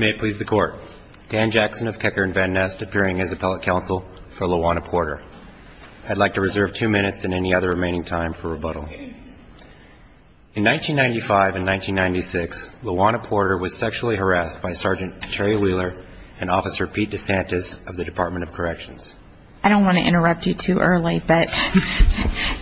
May it please the Court. Dan Jackson of Kecker and Van Nest, appearing as appellate counsel for LaWanna Porter. I'd like to reserve two minutes and any other remaining time for rebuttal. In 1995 and 1996, LaWanna Porter was sexually harassed by Sgt. Terry Wheeler and Officer Pete DeSantis of the Dept. of Corrections. I don't want to interrupt you too early, but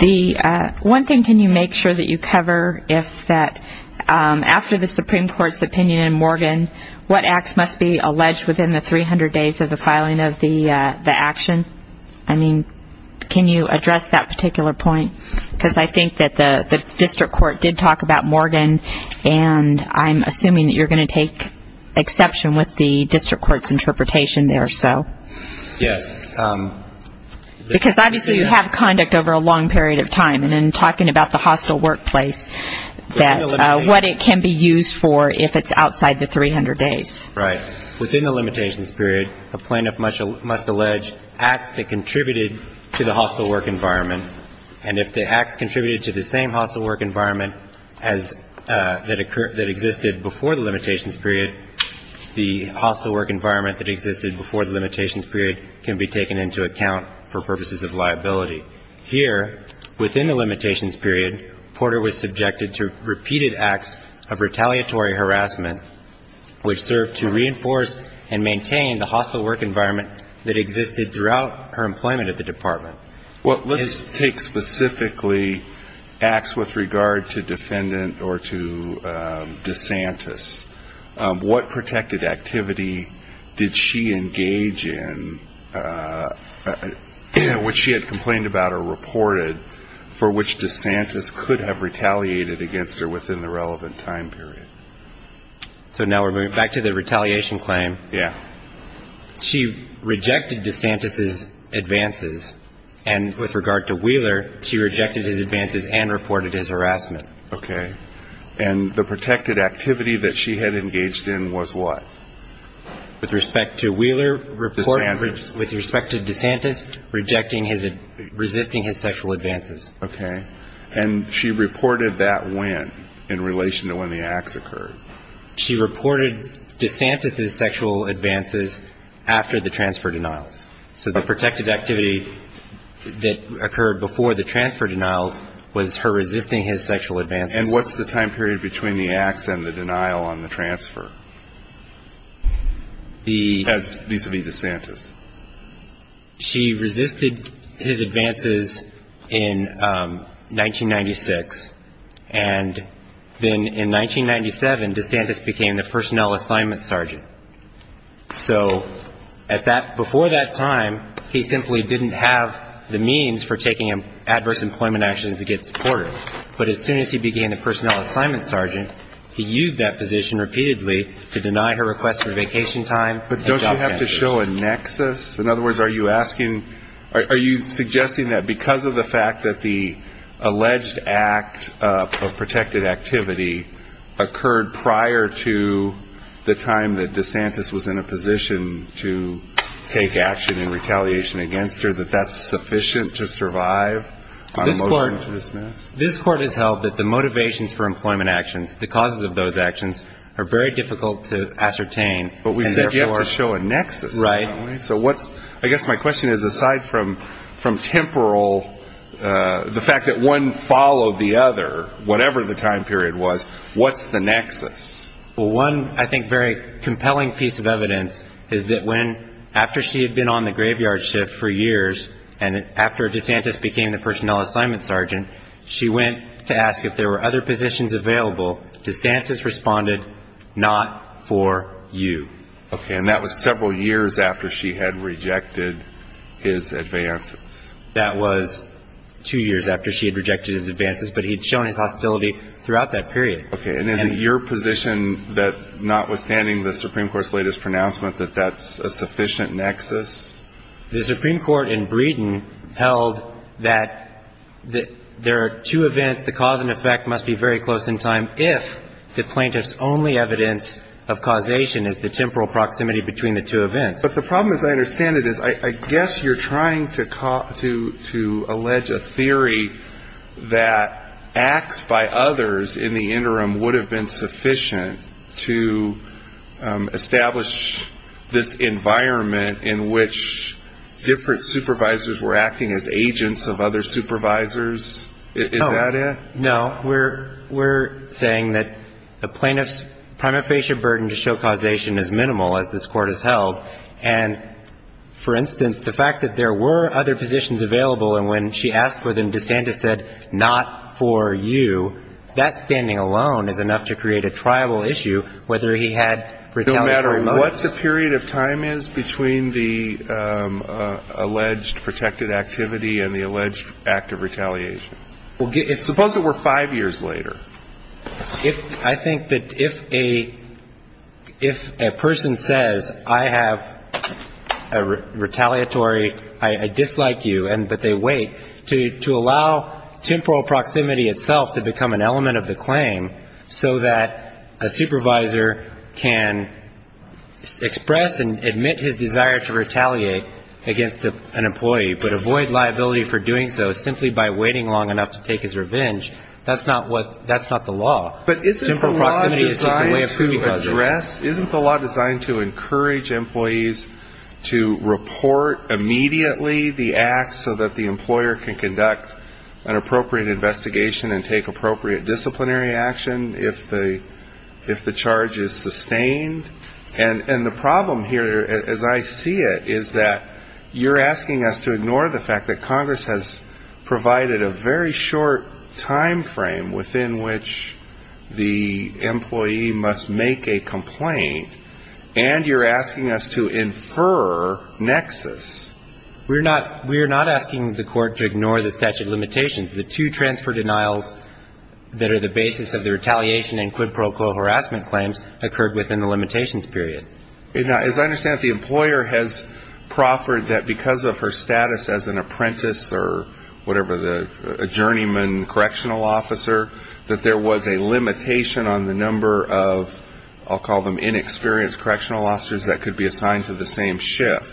the one thing can you make sure that you cover if there is a sexual harassment case, is that after the Supreme Court's opinion in Morgan, what acts must be alleged within the 300 days of the filing of the action? I mean, can you address that particular point? Because I think that the District Court did talk about Morgan and I'm assuming that you're going to take exception with the District Court's interpretation there, so. Yes. Because obviously you have conduct over a long period of time and in talking about the hostile workplace, that's what it can be used for if it's outside the 300 days. Right. Within the limitations period, a plaintiff must allege acts that contributed to the hostile work environment, and if the acts contributed to the same hostile work environment that existed before the limitations period, the hostile work environment that existed before the limitations period can be taken into account for purposes of liability. Here, within the limitations period, Porter was subjected to repeated acts of retaliatory harassment, which served to reinforce and maintain the hostile work environment that existed throughout her employment at the Department. Well, let's take specifically acts with regard to defendant or to DeSantis. What protected activity did she engage in, which she had complained about or reported, for which DeSantis could have retaliated against her within the relevant time period? So now we're moving back to the retaliation claim. Yeah. She rejected DeSantis' advances, and with regard to Wheeler, she rejected his advances and reported his harassment. Okay. And the protected activity that she had engaged in was what? With respect to Wheeler, with respect to DeSantis, resisting his sexual advances. Okay. And she reported that when, in relation to when the acts occurred? She reported DeSantis' sexual advances after the transfer denials. So the protected activity that occurred before the transfer denials was her resisting his sexual advances. And what's the time period between the acts and the denial on the transfer, vis-à-vis DeSantis? She resisted his advances in 1996, and then in 1997, DeSantis became the personnel assignment sergeant. So before that time, he simply didn't have the means for taking adverse employment actions against Porter. But as soon as he became the personnel assignment sergeant, he used that position repeatedly to deny her request for vacation time. But don't you have to show a nexus? In other words, are you asking or are you suggesting that because of the fact that the alleged act of protected activity occurred prior to the time that DeSantis was in a position to take action in retaliation against her, that that's sufficient to survive on a motion to dismiss? This Court has held that the motivations for employment actions, the causes of those actions, are very difficult to ascertain. But we said you have to show a nexus. Right. So I guess my question is, aside from temporal, the fact that one followed the other, whatever the time period was, what's the nexus? Well, one, I think, very compelling piece of evidence is that when, after she had been on the graveyard shift for years, and after DeSantis became the personnel assignment sergeant, she went to ask if there were other positions available. DeSantis responded, not for you. Okay. And that was several years after she had rejected his advances. That was two years after she had rejected his advances, but he had shown his hostility throughout that period. Okay. And is it your position that, notwithstanding the Supreme Court's latest pronouncement, that that's a sufficient nexus? The Supreme Court in Breeden held that there are two events. The cause and effect must be very close in time if the plaintiff's only evidence of causation is the temporal proximity between the two events. But the problem, as I understand it, is I guess you're trying to allege a theory that acts by others in the interim would have been sufficient to establish this environment in which different supervisors were acting as agents of other supervisors. Is that it? No. We're saying that the plaintiff's prima facie burden to show causation is minimal, as this Court has held. And, for instance, the fact that there were other positions available and when she asked for them, DeSantis said, not for you, that standing alone is enough to create a triable issue whether he had retaliatory motives. No matter what the period of time is between the alleged protected activity and the alleged act of retaliation. Suppose it were five years later. I think that if a person says, I have a retaliatory, I dislike you, but they wait, to allow temporal proximity itself to become an element of the claim so that a supervisor can express and admit his desire to retaliate against an employee, but avoid liability for doing so simply by waiting long enough to take his revenge, that's not the law. Temporal proximity is just a way of proving causation. Isn't the law designed to encourage employees to report immediately the acts so that the employer can conduct an appropriate investigation and take appropriate disciplinary action if the charge is sustained? And the problem here, as I see it, is that you're asking us to ignore the fact that Congress has provided a very short timeframe within which the employee must make a complaint, and you're asking us to infer nexus. We're not asking the Court to ignore the statute of limitations. The two transfer denials that are the basis of the retaliation and quid pro quo harassment claims occurred within the limitations period. Now, as I understand it, the employer has proffered that because of her status as an apprentice or whatever, the journeyman correctional officer, that there was a limitation on the number of, I'll call them, inexperienced correctional officers that could be assigned to the same shift.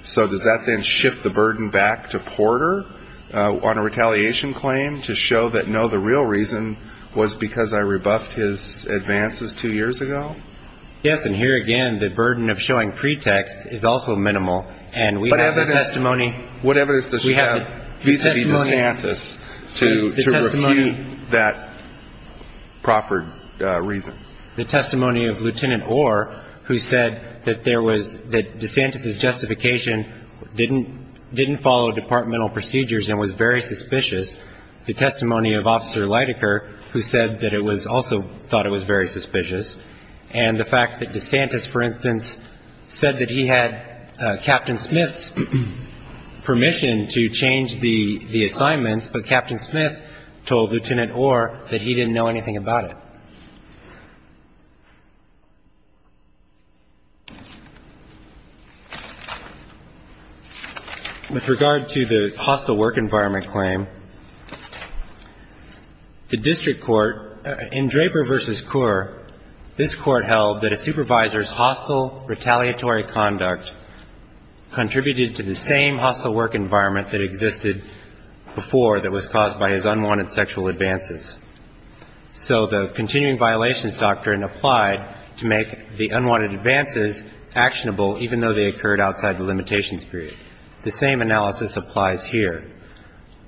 So does that then shift the burden back to Porter on a retaliation claim to show that, no, the real reason was because I rebuffed his advances two years ago? Yes, and here again, the burden of showing pretext is also minimal, and we have the testimony. What evidence does she have vis-à-vis DeSantis to refute that proffered reason? The testimony of Lieutenant Orr, who said that there was – that DeSantis' justification didn't follow departmental procedures and was very suspicious. The testimony of Officer Leidecker, who said that it was – also thought it was very suspicious. And the fact that DeSantis, for instance, said that he had Captain Smith's permission to change the assignments, but Captain Smith told Lieutenant Orr that he didn't know anything about it. With regard to the hostile work environment claim, the district court – in Draper v. Kaur, this court held that a supervisor's hostile retaliatory conduct contributed to the same hostile work environment that existed before that was caused by his unwanted sexual advances. So the continuing violations doctrine applied to make the unwanted advances actionable, even though they occurred outside the limitations period. The same analysis applies here.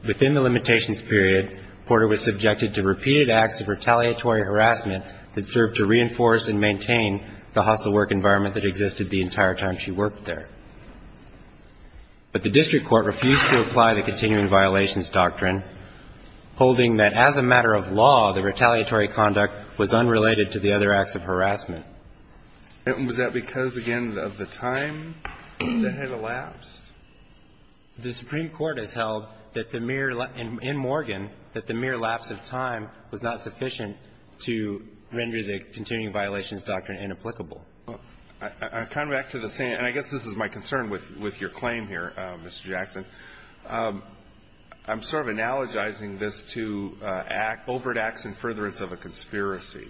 Within the limitations period, Porter was subjected to repeated acts of retaliatory harassment that served to reinforce and maintain the hostile work environment that existed the entire time she worked there. But the district court refused to apply the continuing violations doctrine, holding that as a matter of law, the retaliatory conduct was unrelated to the other acts of harassment. And was that because, again, of the time that had elapsed? The Supreme Court has held that the mere – in Morgan, that the mere lapse of time was not sufficient to render the continuing violations doctrine inapplicable. I come back to the same – and I guess this is my concern with your claim here, Mr. Jackson. I'm sort of analogizing this to overt acts and furtherance of a conspiracy.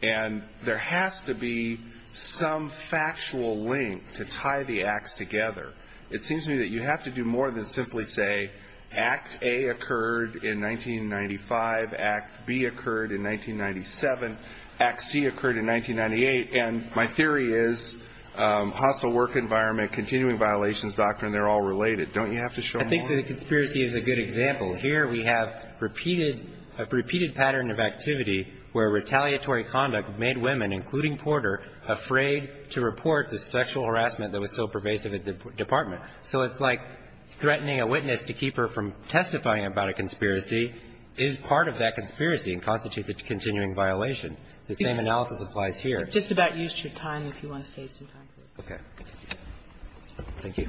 And there has to be some factual link to tie the acts together. It seems to me that you have to do more than simply say Act A occurred in 1995, Act B occurred in 1997, Act C occurred in 1998. And my theory is hostile work environment, continuing violations doctrine, they're all related. Don't you have to show more? I think the conspiracy is a good example. Here we have repeated – a repeated pattern of activity where retaliatory conduct made women, including Porter, afraid to report the sexual harassment that was so pervasive at the department. So it's like threatening a witness to keep her from testifying about a conspiracy is part of that conspiracy and constitutes a continuing violation. The same analysis applies here. Just about used your time if you want to save some time for it. Okay. Thank you.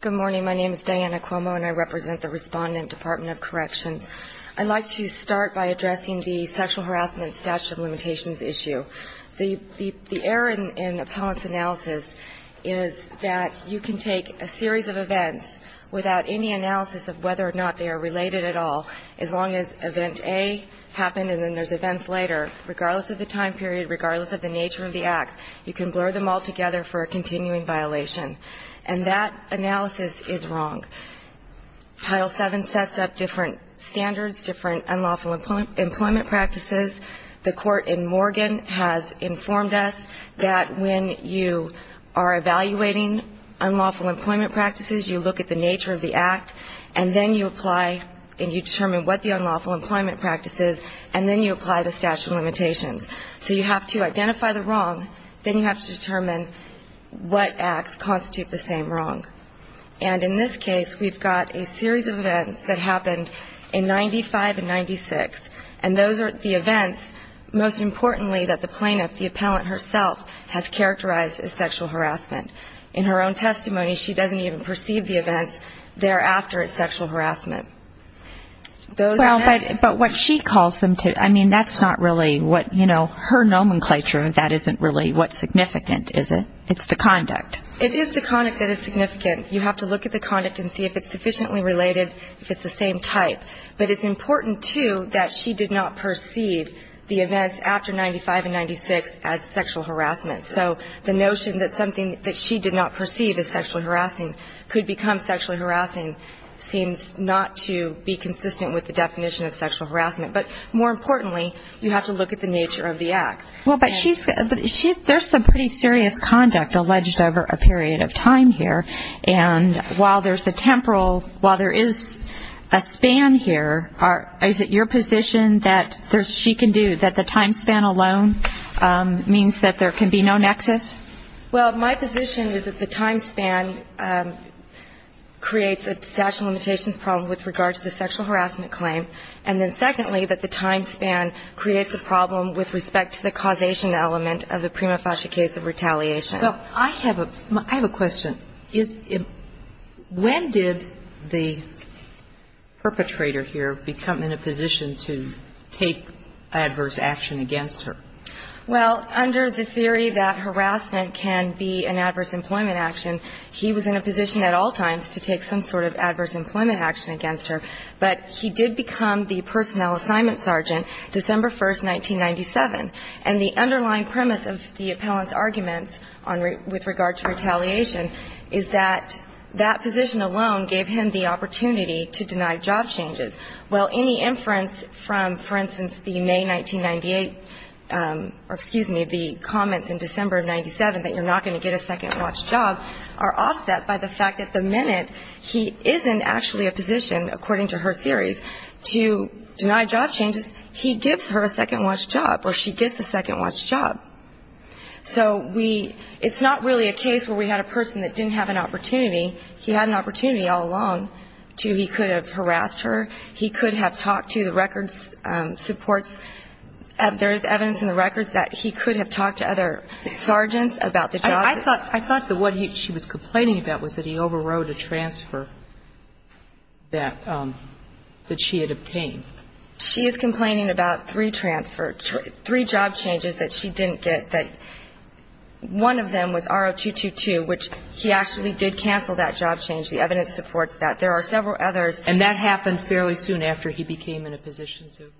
Good morning. My name is Diana Cuomo, and I represent the Respondent Department of Corrections. I'd like to start by addressing the sexual harassment statute of limitations issue. The error in appellant's analysis is that you can take a series of events without any analysis of whether or not they are related at all, as long as event A happened and then there's events later, regardless of the time period, regardless of the nature of the acts, you can blur them all together for a continuing violation. And that analysis is wrong. Title VII sets up different standards, different unlawful employment practices. The court in Morgan has informed us that when you are evaluating unlawful employment practices, you look at the nature of the act, and then you apply and you determine what the unlawful employment practice is, and then you apply the statute of limitations. So you have to identify the wrong, then you have to determine what acts constitute the same wrong. And in this case, we've got a series of events that happened in 95 and 96, and those are the events, most importantly, that the plaintiff, the appellant herself, has characterized as sexual harassment. In her own testimony, she doesn't even perceive the events thereafter as sexual harassment. Those are the events. But what she calls them to, I mean, that's not really what, you know, her nomenclature, that isn't really what's significant, is it? It's the conduct. It is the conduct that is significant. You have to look at the conduct and see if it's sufficiently related, if it's the same type. But it's important, too, that she did not perceive the events after 95 and 96 as sexual harassment. So the notion that something that she did not perceive as sexual harassing could become sexually harassing seems not to be consistent with the definition of sexual harassment. But more importantly, you have to look at the nature of the act. Well, but there's some pretty serious conduct alleged over a period of time here. And while there's a temporal, while there is a span here, is it your position that there's, she can do, that the time span alone means that there can be no nexus? Well, my position is that the time span creates a statute of limitations problem with regard to the sexual harassment claim. And then secondly, that the time span creates a problem with respect to the causation element of the prima facie case of retaliation. Well, I have a, I have a question. Is, when did the perpetrator here become in a position to take adverse action against her? Well, under the theory that harassment can be an adverse employment action, he was in a position at all times to take some sort of adverse employment action against her. But he did become the personnel assignment sergeant December 1, 1997. And the underlying premise of the appellant's argument on, with regard to retaliation is that that position alone gave him the opportunity to deny job changes. Well, any inference from, for instance, the May 1998, or excuse me, the comments in December of 1997 that you're not going to get a second watch job are offset by the fact that the minute he is in actually a position, according to her theories, to deny job changes, he gives her a second watch job or she gets a second watch job. So we, it's not really a case where we had a person that didn't have an opportunity. He had an opportunity all along to, he could have harassed her. He could have talked to the records supports. There is evidence in the records that he could have talked to other sergeants about the job. I thought, I thought that what he, she was complaining about was that he overrode a transfer that, that she had obtained. She is complaining about three transfer, three job changes that she didn't get, that one of them was R0222, which he actually did cancel that job change. The evidence supports that. There are several others. And that happened fairly soon after he became in a position to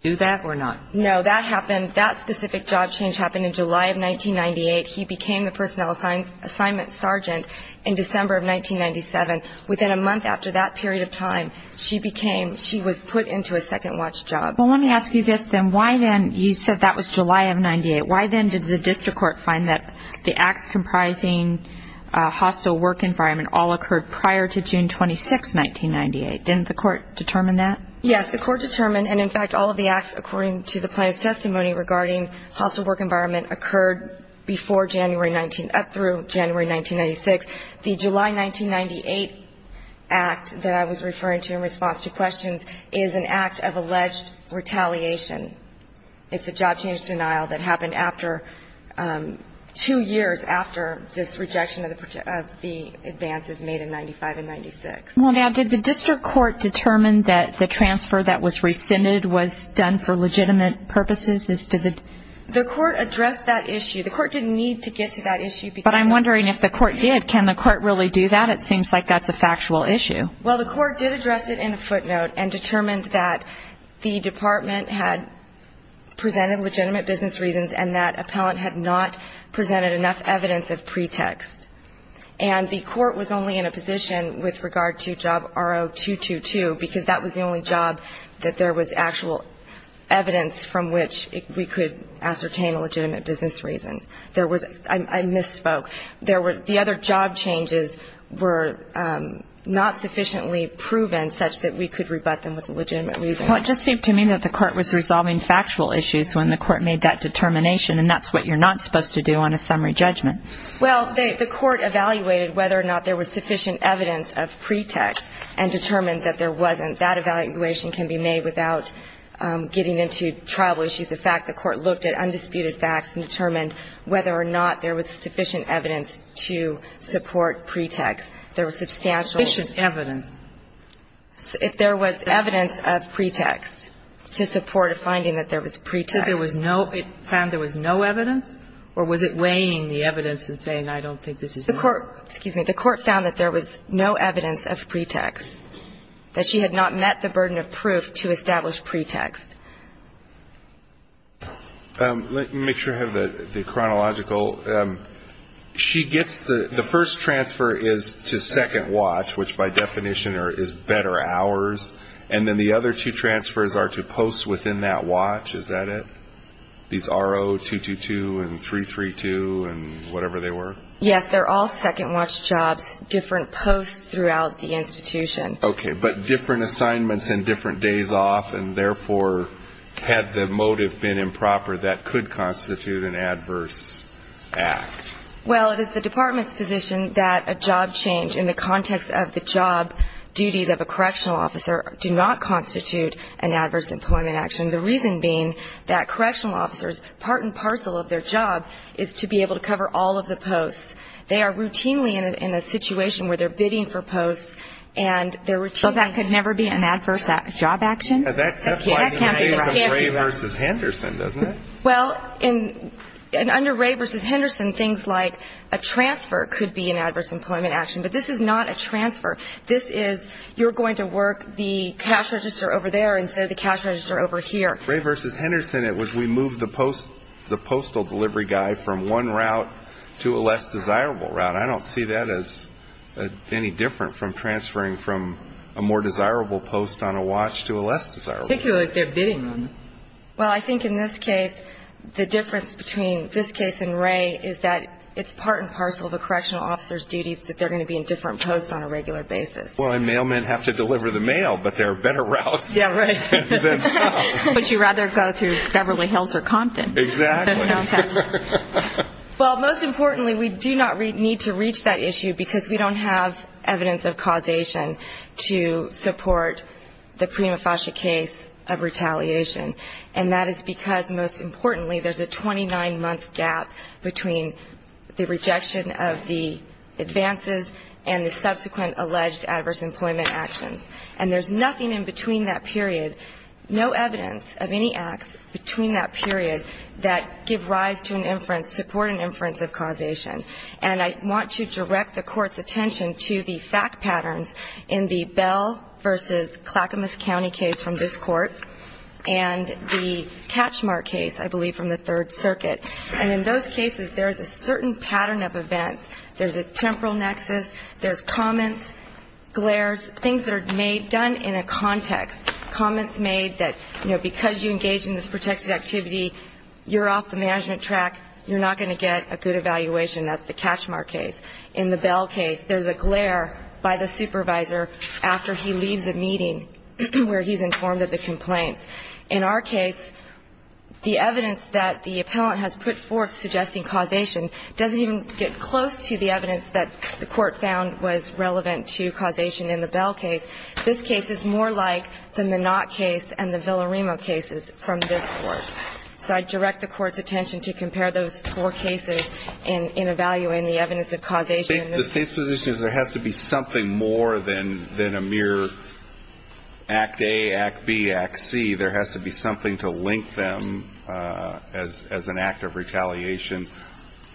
do that or not? No. That happened, that specific job change happened in July of 1998. He became the personnel assignment sergeant in December of 1997. Within a month after that period of time, she became, she was put into a second watch job. Well, let me ask you this then. Why then, you said that was July of 98. Why then did the district court find that the acts comprising hostile work environment all occurred prior to June 26, 1998? Didn't the court determine that? Yes, the court determined, and in fact, all of the acts according to the plaintiff's testimony regarding hostile work environment occurred before January 19, through January 1996. The July 1998 act that I was referring to in response to questions is an act of alleged retaliation. It's a job change denial that happened after, two years after this rejection of the advances made in 95 and 96. Well, now, did the district court determine that the transfer that was rescinded was done for legitimate purposes? The court addressed that issue. The court didn't need to get to that issue. But I'm wondering if the court did. Can the court really do that? It seems like that's a factual issue. Well, the court did address it in a footnote and determined that the department had presented legitimate business reasons and that appellant had not presented enough evidence of pretext. And the court was only in a position with regard to job RO222 because that was the only job that there was actual evidence from which we could ascertain a legitimate business reason. I misspoke. The other job changes were not sufficiently proven such that we could rebut them with a legitimate reason. Well, it just seemed to me that the court was resolving factual issues when the court made that determination, and that's what you're not supposed to do on a summary judgment. Well, the court evaluated whether or not there was sufficient evidence of pretext and determined that there wasn't. That evaluation can be made without getting into tribal issues. In fact, the court looked at undisputed facts and determined whether or not there was sufficient evidence to support pretext. There was substantial ---- Sufficient evidence. If there was evidence of pretext to support a finding that there was pretext. If there was no ---- it found there was no evidence, or was it weighing the evidence and saying, I don't think this is ---- The court, excuse me, the court found that there was no evidence of pretext, that she had not met the burden of proof to establish pretext. Let me make sure I have the chronological. She gets the first transfer is to second watch, which by definition is better hours, and then the other two transfers are to post within that watch. Is that it? These RO-222 and 332 and whatever they were? Yes, they're all second watch jobs, different posts throughout the institution. Okay, but different assignments and different days off, and therefore, had the motive been improper, that could constitute an adverse act. Well, it is the department's position that a job change in the context of the job duties of a correctional officer do not constitute an adverse employment action, the reason being that correctional officers, part and parcel of their job, is to be able to cover all of the posts. They are routinely in a situation where they're bidding for posts, and they're routinely So that could never be an adverse job action? That applies in the case of Ray v. Henderson, doesn't it? Well, under Ray v. Henderson, things like a transfer could be an adverse employment action, but this is not a transfer. This is you're going to work the cash register over there instead of the cash register over here. Ray v. Henderson, it was we moved the postal delivery guy from one route to a less desirable route. I don't see that as any different from transferring from a more desirable post on a watch to a less desirable. Particularly if they're bidding on it. Well, I think in this case, the difference between this case and Ray is that it's part and parcel of the correctional officer's duties that they're going to be in different posts on a regular basis. Well, and mailmen have to deliver the mail, but there are better routes. Yeah, right. Would you rather go through Beverly Hills or Compton? Exactly. Well, most importantly, we do not need to reach that issue because we don't have evidence of causation to support the Prima Fascia case of retaliation. And that is because, most importantly, there's a 29-month gap between the rejection of the advances and the subsequent alleged adverse employment actions. And there's nothing in between that period, no evidence of any acts between that period that give rise to an inference, support an inference of causation. And I want to direct the Court's attention to the fact patterns in the Bell v. Clackamas County case from this Court and the catchmark case, I believe, from the Third Circuit. And in those cases, there is a certain pattern of events. There's a temporal nexus. There's comments, glares, things that are made, done in a context, comments made that, you know, because you engage in this protected activity, you're off the management track, you're not going to get a good evaluation. That's the catchmark case. In the Bell case, there's a glare by the supervisor after he leaves a meeting where he's informed of the complaints. In our case, the evidence that the appellant has put forth suggesting causation doesn't even get close to the evidence that the Court found was relevant to causation in the Bell case. This case is more like the Minot case and the Villarimo cases from this Court. So I direct the Court's attention to compare those four cases in evaluating the evidence of causation. The State's position is there has to be something more than a mere Act A, Act B, Act C. There has to be something to link them as an act of retaliation.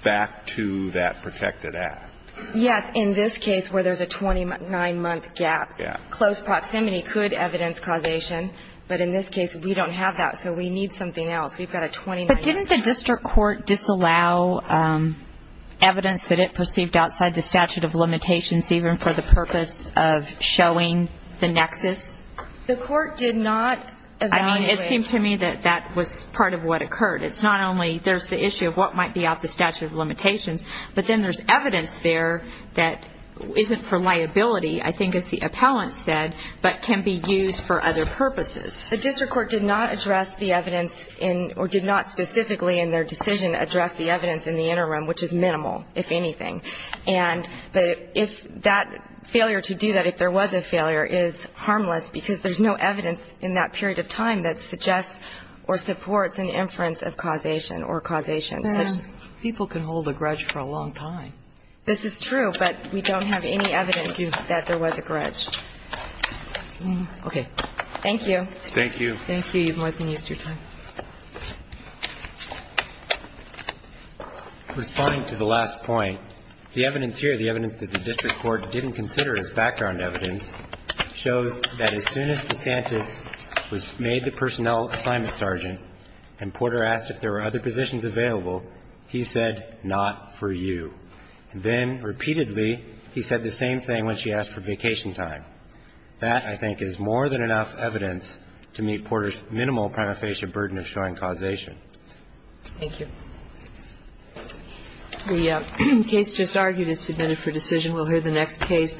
Back to that protected act. Yes. In this case where there's a 29-month gap, close proximity could evidence causation. But in this case, we don't have that, so we need something else. We've got a 29-month gap. But didn't the district court disallow evidence that it perceived outside the statute of limitations even for the purpose of showing the nexus? The court did not evaluate. I mean, it seemed to me that that was part of what occurred. It's not only there's the issue of what might be out the statute of limitations, but then there's evidence there that isn't for liability, I think, as the appellant said, but can be used for other purposes. The district court did not address the evidence in or did not specifically in their decision address the evidence in the interim, which is minimal, if anything. And if that failure to do that, if there was a failure, is harmless because there's no evidence in that period of time that suggests or supports an inference of causation or causation. People can hold a grudge for a long time. This is true, but we don't have any evidence that there was a grudge. Okay. Thank you. Thank you. Thank you. You've more than used your time. This statement in the end evidence shows that as soon as DeSantis made the personnel assignment, and Porter asked if there were other positions available, he said, not for you. Then, repeatedly, he said the same thing when she asked for vacation time. That, I think, is more than enough evidence to meet Porter's minimal prima facie burden of showing causation. Thank you. The case just argued is submitted for decision. We'll hear the next case.